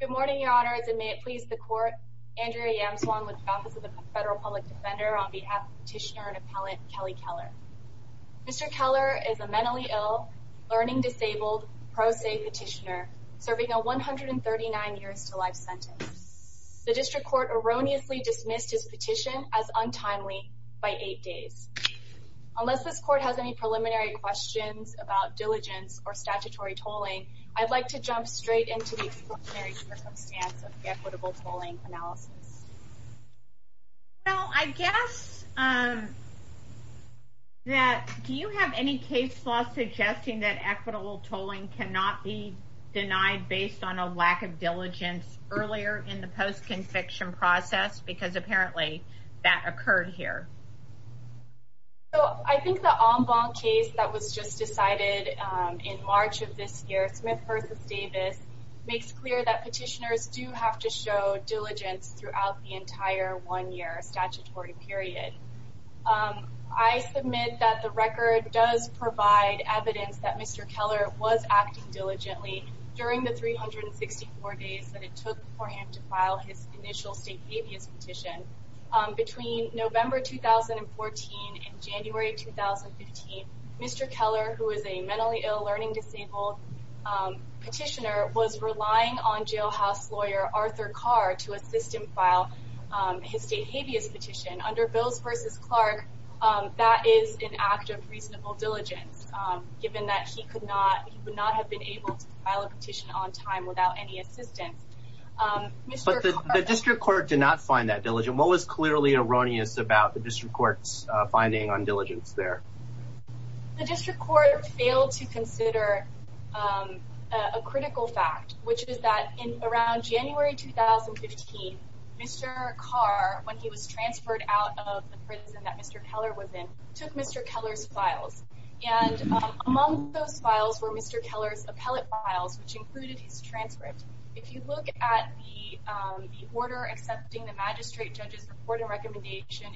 Good morning, Your Honors, and may it please the Court, Andrea Yamswong with the Office of the Federal Public Defender on behalf of Petitioner and Appellant Kelly Keller. Mr. Keller is a mentally ill, learning disabled, pro se petitioner, serving a 139 years to life sentence. The District Court erroneously dismissed his petition as untimely by eight days. Unless this Court has any preliminary questions about diligence or statutory tolling, I'd like to jump straight into the extraordinary circumstance of the equitable tolling analysis. Well, I guess that, do you have any case law suggesting that equitable tolling cannot be denied based on a lack of diligence earlier in the post-conviction process? Because apparently that occurred here. So, I think the en banc case that was just decided in March of this year, Smith v. Davis, makes clear that petitioners do have to show diligence throughout the entire one-year statutory period. I submit that the record does provide evidence that Mr. Keller was acting diligently during the 364 days that it took for him to file his initial state habeas petition. Between November 2014 and January 2015, Mr. Keller, who is a mentally ill, learning disabled petitioner, was relying on jailhouse lawyer Arthur Carr to assist him file his state habeas petition. Under Bills v. Clark, that is an act of reasonable diligence, given that he could not have been able to file a petition on time without any assistance. But the district court did not find that diligent. What was clearly erroneous about the district court's finding on diligence there? The district court failed to consider a critical fact, which is that around January 2015, Mr. Carr, when he was transferred out of the prison that Mr. Keller was in, took Mr. Keller's files. Among those files were Mr. Keller's appellate files, which included his transcript. If you look at the order accepting the magistrate judge's report and recommendation,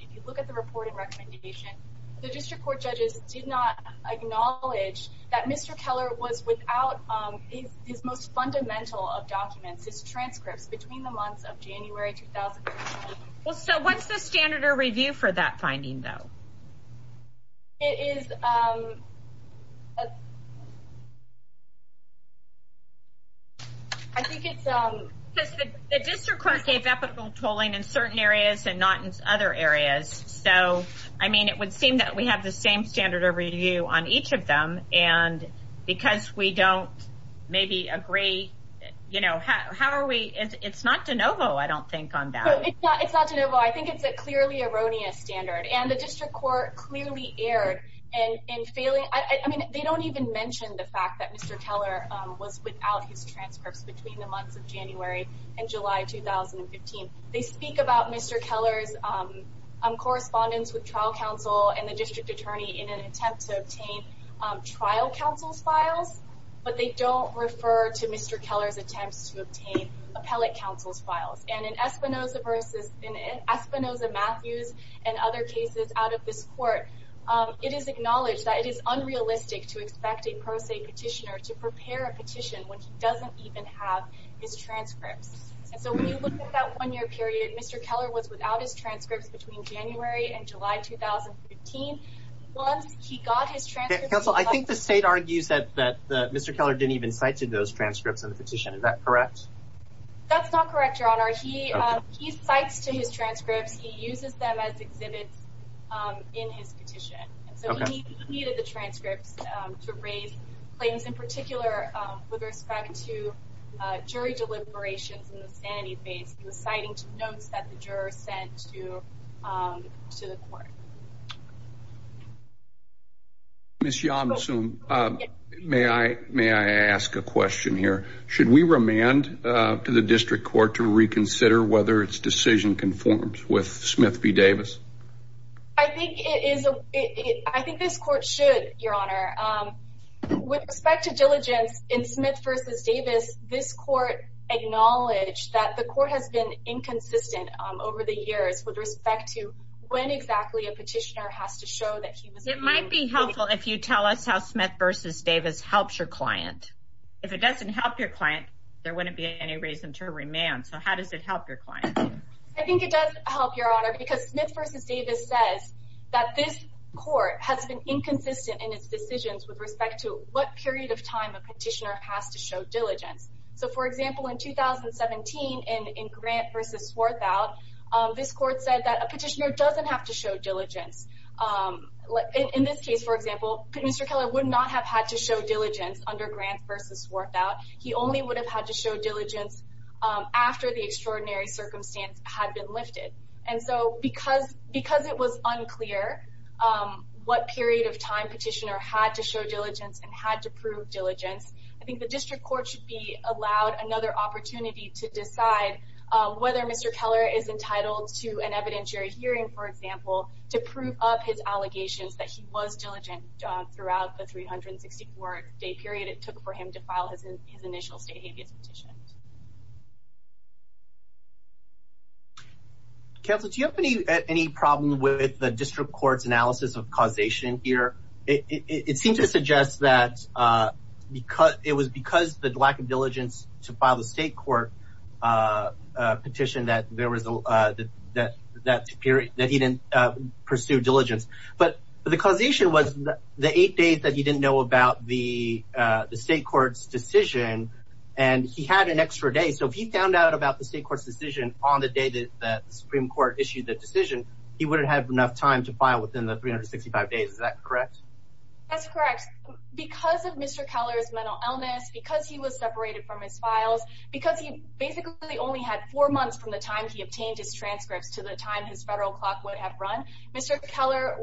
the district court judges did not acknowledge that Mr. Keller was without his most fundamental of documents, his transcripts, between the months of January 2015. What's the standard of review for that finding, though? It is... I think it's... The district court gave equitable tolling in certain areas and not in other areas. So, I mean, it would seem that we have the same standard of review on each of them. And because we don't maybe agree, you know, how are we... It's not de novo, I don't think, on that. It's not de novo. I think it's a clearly erroneous standard. And the district court clearly erred in failing... I mean, they don't even mention the fact that Mr. Keller was without his transcripts between the months of January and July 2015. They speak about Mr. Keller's correspondence with trial counsel and the district attorney in an attempt to obtain trial counsel's files, but they don't refer to Mr. Keller's attempts to obtain appellate counsel's files. And in Espinoza versus... Espinoza-Matthews and other cases out of this court, it is acknowledged that it is unrealistic to expect a pro se petitioner to prepare a petition when he doesn't even have his transcripts. And so when you look at that one-year period, Mr. Keller was without his transcripts between January and July 2015. Once he got his transcripts... Counsel, I think the state argues that Mr. Keller didn't even cite those transcripts in the petition. Is that correct? That's not correct, Your Honor. He cites to his transcripts. He uses them as exhibits in his petition. So he needed the transcripts to raise claims in particular with respect to jury deliberations in the sanity phase and the citing to notes that the jurors sent to the court. Ms. Yomsum, may I ask a question here? Should we remand to the district court to reconsider whether its decision conforms with Smith v. Davis? I think this court should, Your Honor. With respect to diligence in Smith v. Davis, this court acknowledged that the court has been inconsistent over the years with respect to when exactly a petitioner has to show that he was... It might be helpful if you tell us how Smith v. Davis helps your client. If it doesn't help your client, there wouldn't be any reason to remand. So how does it help your client? I think it does help, Your Honor, because Smith v. Davis says that this court has been inconsistent in its decisions with respect to what period of time a petitioner has to show diligence. So, for example, in 2017, in Grant v. Swarthout, this court said that a petitioner doesn't have to show diligence. In this case, for example, Mr. Keller would not have had to show diligence under Grant v. Swarthout. He only would have had to show diligence after the extraordinary circumstance had been lifted. And so because it was unclear what period of time petitioner had to show diligence and had to prove diligence, I think the district court should be allowed another opportunity to decide whether Mr. Keller is entitled to an evidentiary hearing, for example, to prove up his allegations that he was diligent throughout the 364-day period it took for him to file his initial state habeas petition. Counsel, do you have any problem with the district court's analysis of causation here? It seemed to suggest that it was because of the lack of diligence to file the state court petition that he didn't pursue diligence. But the causation was the eight days that he didn't know about the state court's decision, and he had an extra day. So if he found out about the state court's decision on the day that the Supreme Court issued the decision, he wouldn't have enough time to file within the 365 days. Is that correct? That's correct. Because of Mr. Keller's mental illness, because he was separated from his files, because he basically only had four months from the time he obtained his transcripts to the time his federal clock would have run, Mr. Keller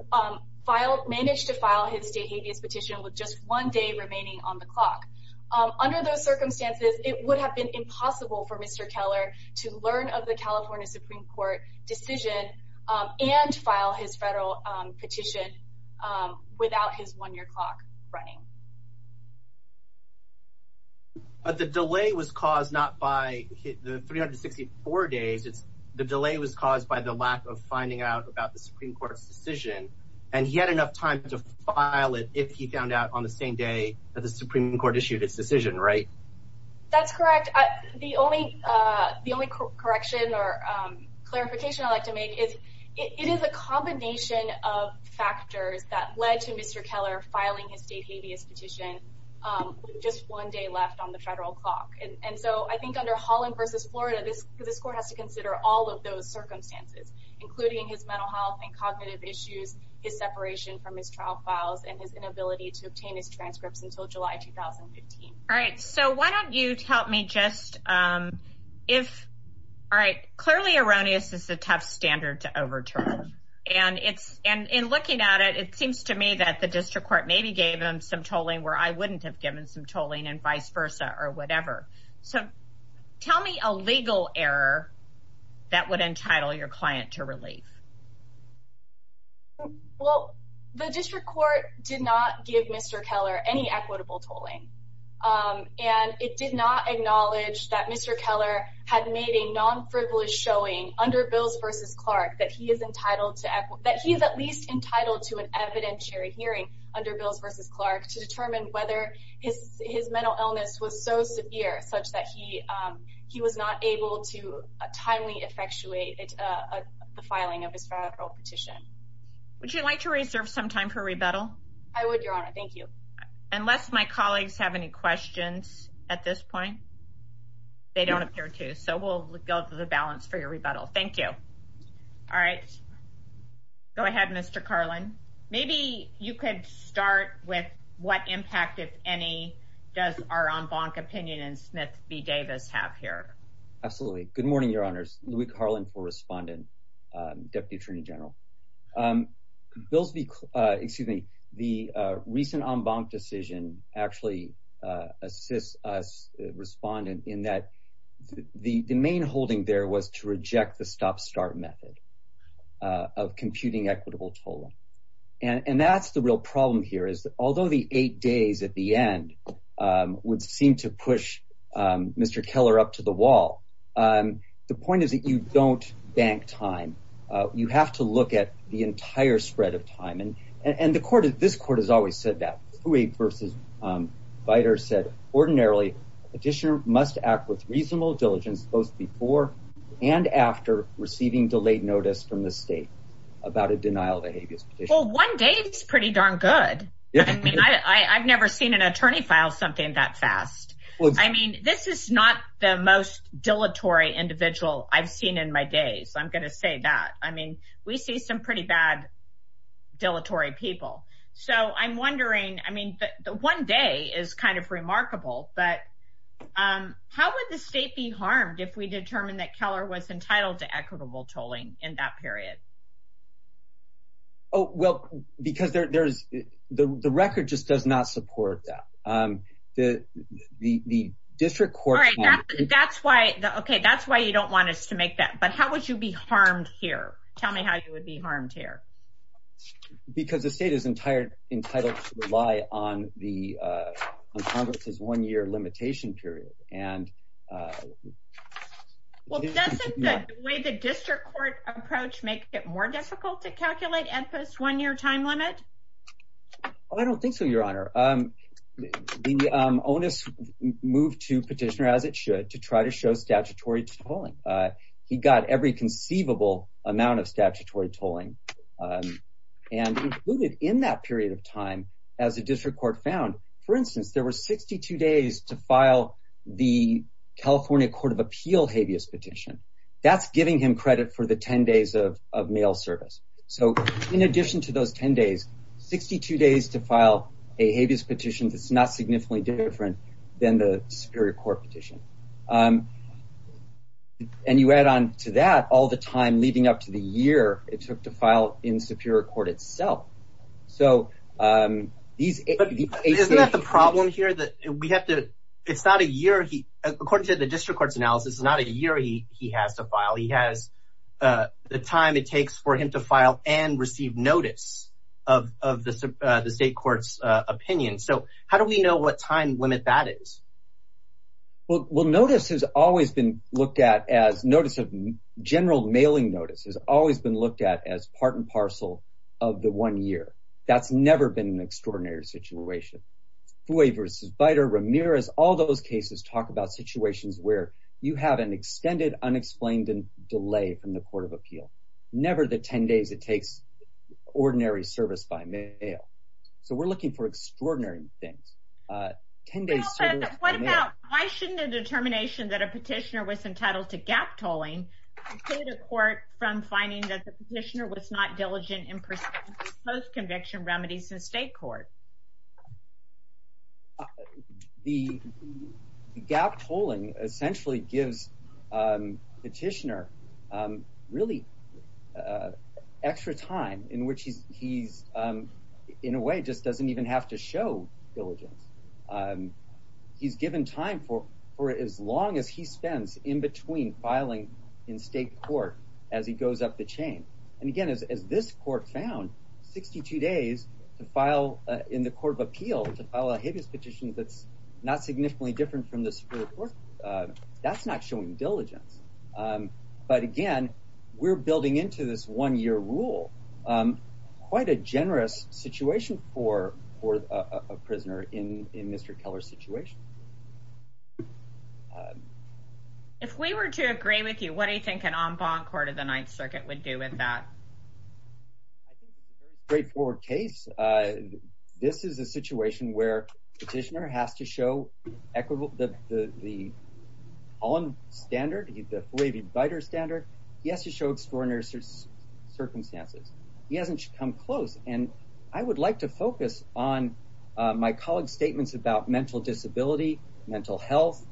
managed to file his state habeas petition with just one day remaining on the clock. Under those circumstances, it would have been impossible for Mr. Keller to learn of the California Supreme Court decision and file his federal petition without his one-year clock running. But the delay was caused not by the 364 days. It's the delay was caused by the lack of finding out about the Supreme Court's decision, and he had enough time to file it if he found out on the same day that the Supreme Court issued its decision, right? That's correct. The only correction or clarification I'd like to make is it is a combination of factors that led to Mr. Keller filing his state habeas petition with just one day left on the federal clock. And so I think under Holland v. Florida, this court has to consider all of those circumstances, including his mental health and cognitive issues, his separation from his trial files, and his inability to obtain his transcripts until July 2015. All right. So why don't you tell me just if all right, clearly erroneous is a tough standard to overturn. And it's and in looking at it, it seems to me that the district court maybe gave him some tolling where I wouldn't have given some tolling and vice versa or whatever. So tell me a legal error that would entitle your client to relief. Well, the district court did not give Mr. Keller any equitable tolling, and it did not acknowledge that Mr. Keller had made a non-frivolous showing under bills versus Clark that he is entitled to that he is at least entitled to an evidentiary hearing under bills versus Clark to determine whether his his mental illness was so severe such that he he was not able to a timely effectuated. The filing of his federal petition, would you like to reserve some time for rebuttal? I would, Your Honor. Thank you. Unless my colleagues have any questions at this point. They don't appear to. So we'll go to the balance for your rebuttal. Thank you. All right. Go ahead, Mr. Carlin. Maybe you could start with what impact, if any, does our on bonk opinion and Smith v. Davis have here? Absolutely. Good morning, Your Honors. Louie Carlin for respondent, Deputy Attorney General. Excuse me. The recent on bonk decision actually assists us respondent in that the main holding there was to reject the stop start method of computing equitable tolling. And that's the real problem here is that although the eight days at the end would seem to push Mr. Keller up to the wall, the point is that you don't bank time. You have to look at the entire spread of time. I mean, I've never seen an attorney file something that fast. I mean, this is not the most dilatory individual I've seen in my days. I'm going to say that. I mean, we see some pretty bad dilatory people. So I'm wondering, I mean, the one day is kind of remarkable. But how would the state be harmed if we determine that Keller was entitled to equitable tolling in that period? Oh, well, because there's the record just does not support that the district court. All right. That's why. OK, that's why you don't want us to make that. But how would you be harmed here? Tell me how you would be harmed here. Because the state is entire entitled to rely on the Congress's one year limitation period. And well, that's the way the district court approach makes it more difficult to calculate at this one year time limit. I don't think so, Your Honor. The onus moved to petitioner, as it should, to try to show statutory tolling. He got every conceivable amount of statutory tolling and included in that period of time as a district court found. For instance, there were 62 days to file the California Court of Appeal habeas petition. That's giving him credit for the 10 days of mail service. So in addition to those 10 days, 62 days to file a habeas petition. That's not significantly different than the Superior Court petition. And you add on to that all the time leading up to the year it took to file in Superior Court itself. So these are the problem here that we have to. It's not a year. According to the district court's analysis, it's not a year he has to file. He has the time it takes for him to file and receive notice of the state court's opinion. So how do we know what time limit that is? Well, notice has always been looked at as notice of general mailing. Notice has always been looked at as part and parcel of the one year. That's never been an extraordinary situation. Fouay v. Beiter, Ramirez, all those cases talk about situations where you have an extended, unexplained delay from the Court of Appeal. Never the 10 days it takes ordinary service by mail. So we're looking for extraordinary things. Well, but what about, why shouldn't a determination that a petitioner was entitled to gap tolling from finding that the petitioner was not diligent in pursuing post-conviction remedies in state court? The gap tolling essentially gives petitioner really extra time in which he's, in a way, just doesn't even have to show diligence. He's given time for as long as he spends in between filing in state court as he goes up the chain. And again, as this court found, 62 days to file in the Court of Appeal, to file a habeas petition that's not significantly different from the Supreme Court, that's not showing diligence. But again, we're building into this one year rule. Quite a generous situation for a prisoner in Mr. Keller's situation. If we were to agree with you, what do you think an en banc Court of the Ninth Circuit would do with that? I think it's a very straightforward case. This is a situation where petitioner has to show the tolling standard, he has to show extraordinary circumstances. He hasn't come close. And I would like to focus on my colleague's statements about mental disability, mental health,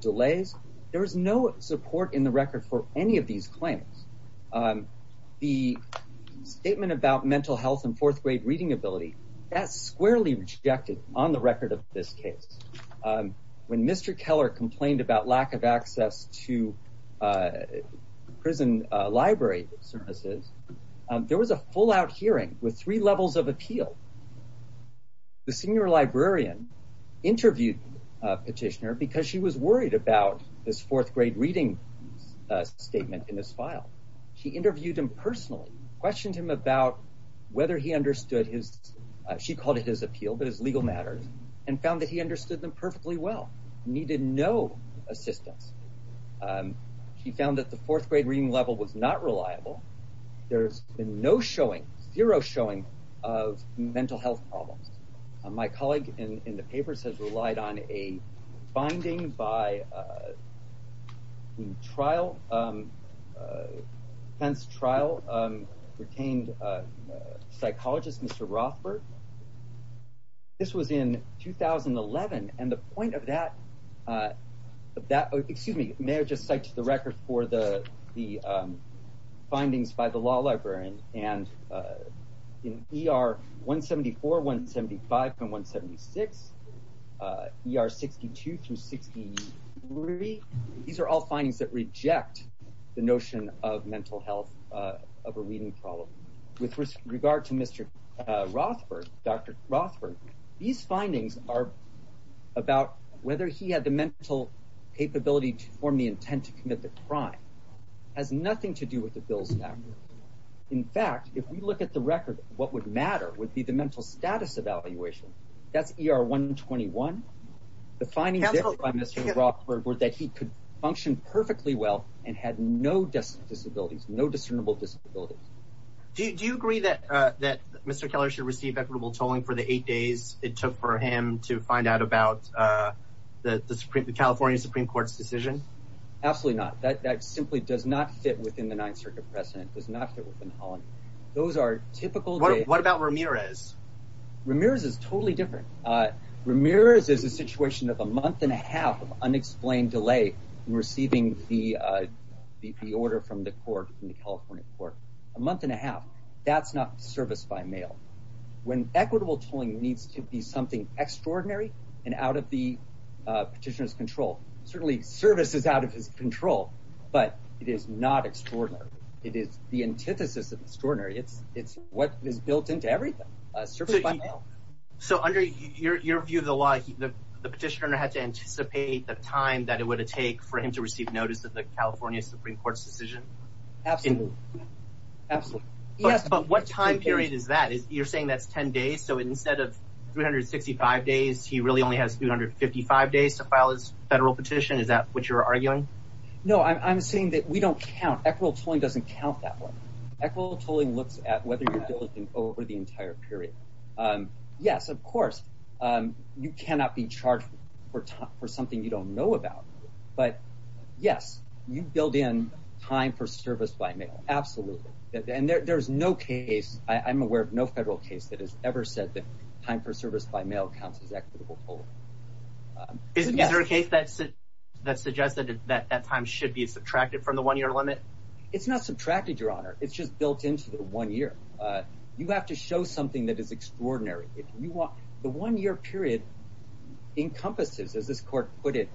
delays. There is no support in the record for any of these claims. The statement about mental health and fourth grade reading ability, that's squarely rejected on the record of this case. When Mr. Keller complained about lack of access to prison library services, there was a full out hearing with three levels of appeal. The senior librarian interviewed petitioner because she was worried about this fourth grade reading statement in his file. She interviewed him personally, questioned him about whether he understood his, she called it his appeal, but his legal matters, and found that he understood them perfectly well, needed no assistance. She found that the fourth grade reading level was not reliable. There's been no showing, zero showing of mental health problems. My colleague in the papers has relied on a finding by the trial, Pence trial retained psychologist Mr. Rothberg. This was in 2011, and the point of that, excuse me, may I just cite the record for the findings by the law librarian. In ER 174, 175, and 176, ER 62 through 63, these are all findings that reject the notion of mental health of a reading problem. With regard to Mr. Rothberg, Dr. Rothberg, these findings are about whether he had the mental capability to form the intent to commit the crime. It has nothing to do with the bills now. In fact, if we look at the record, what would matter would be the mental status evaluation. That's ER 121. The findings by Mr. Rothberg were that he could function perfectly well and had no disabilities, no discernible disabilities. Do you agree that Mr. Keller should receive equitable tolling for the eight days it took for him to find out about the California Supreme Court's decision? Absolutely not. That simply does not fit within the Ninth Circuit precedent, does not fit within the holiday. Those are typical. What about Ramirez? Ramirez is totally different. Ramirez is a situation of a month and a half of unexplained delay in receiving the order from the court, the California court. A month and a half. That's not service by mail. When equitable tolling needs to be something extraordinary and out of the petitioner's control, certainly service is out of his control, but it is not extraordinary. It is the antithesis of extraordinary. It's what is built into everything, service by mail. So under your view of the law, the petitioner had to anticipate the time that it would take for him to receive notice of the California Supreme Court's decision? Absolutely. Absolutely. Yes, but what time period is that? You're saying that's 10 days? So instead of 365 days, he really only has 355 days to file his federal petition? Is that what you're arguing? No, I'm saying that we don't count. Equitable tolling doesn't count that way. Equitable tolling looks at whether you're diligent over the entire period. Yes, of course, you cannot be charged for something you don't know about. But, yes, you build in time for service by mail. Absolutely. And there is no case, I'm aware of no federal case that has ever said that time for service by mail counts as equitable tolling. Is there a case that suggests that that time should be subtracted from the one-year limit? It's not subtracted, Your Honor. It's just built into the one year. You have to show something that is extraordinary. The one-year period encompasses, as this court put it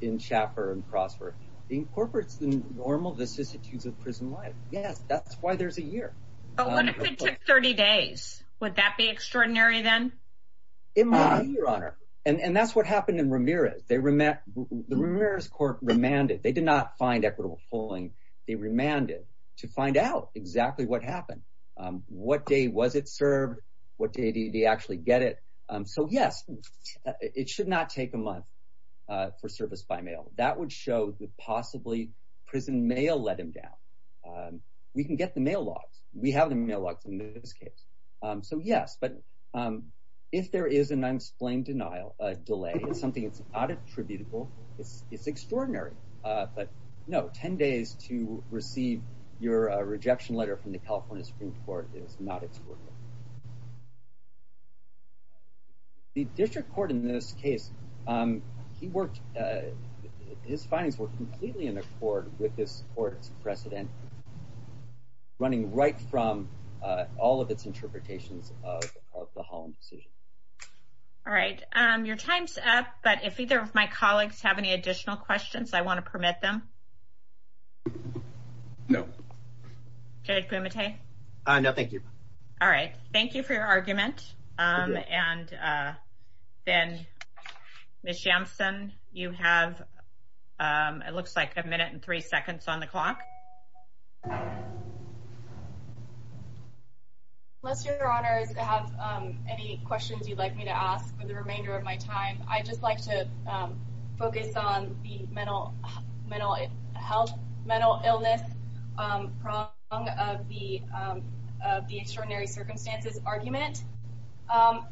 in Schaffer and Crossford, incorporates the normal vicissitudes of prison life. Yes, that's why there's a year. But what if it took 30 days? Would that be extraordinary then? It might be, Your Honor. And that's what happened in Ramirez. The Ramirez court remanded. They did not find equitable tolling. They remanded to find out exactly what happened. What day was it served? What day did he actually get it? So, yes, it should not take a month for service by mail. That would show that possibly prison mail let him down. We can get the mail logs. We have the mail logs in this case. So, yes. But if there is an unexplained delay, something that's not attributable, it's extraordinary. No, 10 days to receive your rejection letter from the California Supreme Court is not extraordinary. The district court in this case, his findings were completely in accord with this court's precedent, running right from all of its interpretations of the Holland decision. All right. Your time's up. But if either of my colleagues have any additional questions, I want to permit them. No. Judge Pumate? No, thank you. All right. Thank you for your argument. And then, Ms. Jampson, you have, it looks like, a minute and three seconds on the clock. Unless, Your Honor, I have any questions you'd like me to ask for the remainder of my time, I'd just like to focus on the mental health, mental illness prong of the extraordinary circumstances argument.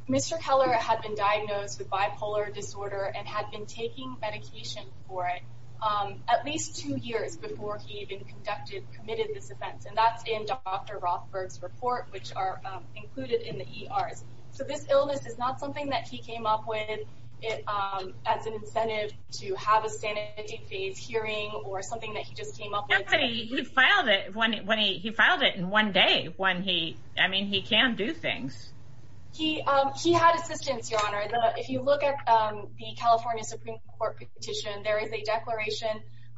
Mr. Keller had been diagnosed with bipolar disorder and had been taking medication for it at least two years before he even conducted, committed this offense. And that's in Dr. Rothberg's report, which are included in the ERs. So this illness is not something that he came up with as an incentive to have a standing phase hearing or something that he just came up with. He filed it in one day when he, I mean, he can do things. He had assistance, Your Honor. If you look at the California Supreme Court petition, there is a declaration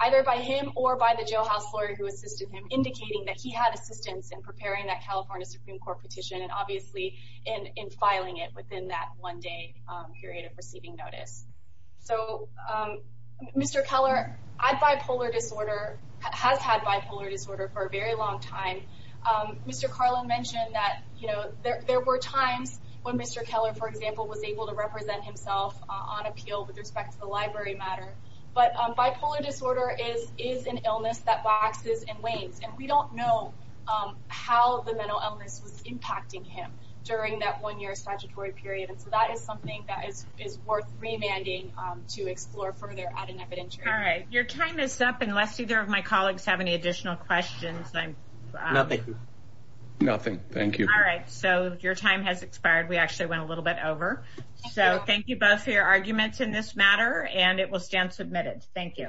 either by him or by the jailhouse lawyer who assisted him, indicating that he had assistance in preparing that California Supreme Court petition and obviously in filing it within that one day period of receiving notice. So, Mr. Keller, bipolar disorder, has had bipolar disorder for a very long time. Mr. Carlin mentioned that, you know, there were times when Mr. Keller, for example, was able to represent himself on appeal with respect to the library matter. But bipolar disorder is an illness that waxes and wanes. And we don't know how the mental illness was impacting him during that one-year statutory period. And so that is something that is worth remanding to explore further at an evidentiary. All right. Your time is up, unless either of my colleagues have any additional questions. Nothing. Nothing. Thank you. All right. So your time has expired. We actually went a little bit over. So thank you both for your arguments in this matter. And it will stand submitted. Thank you.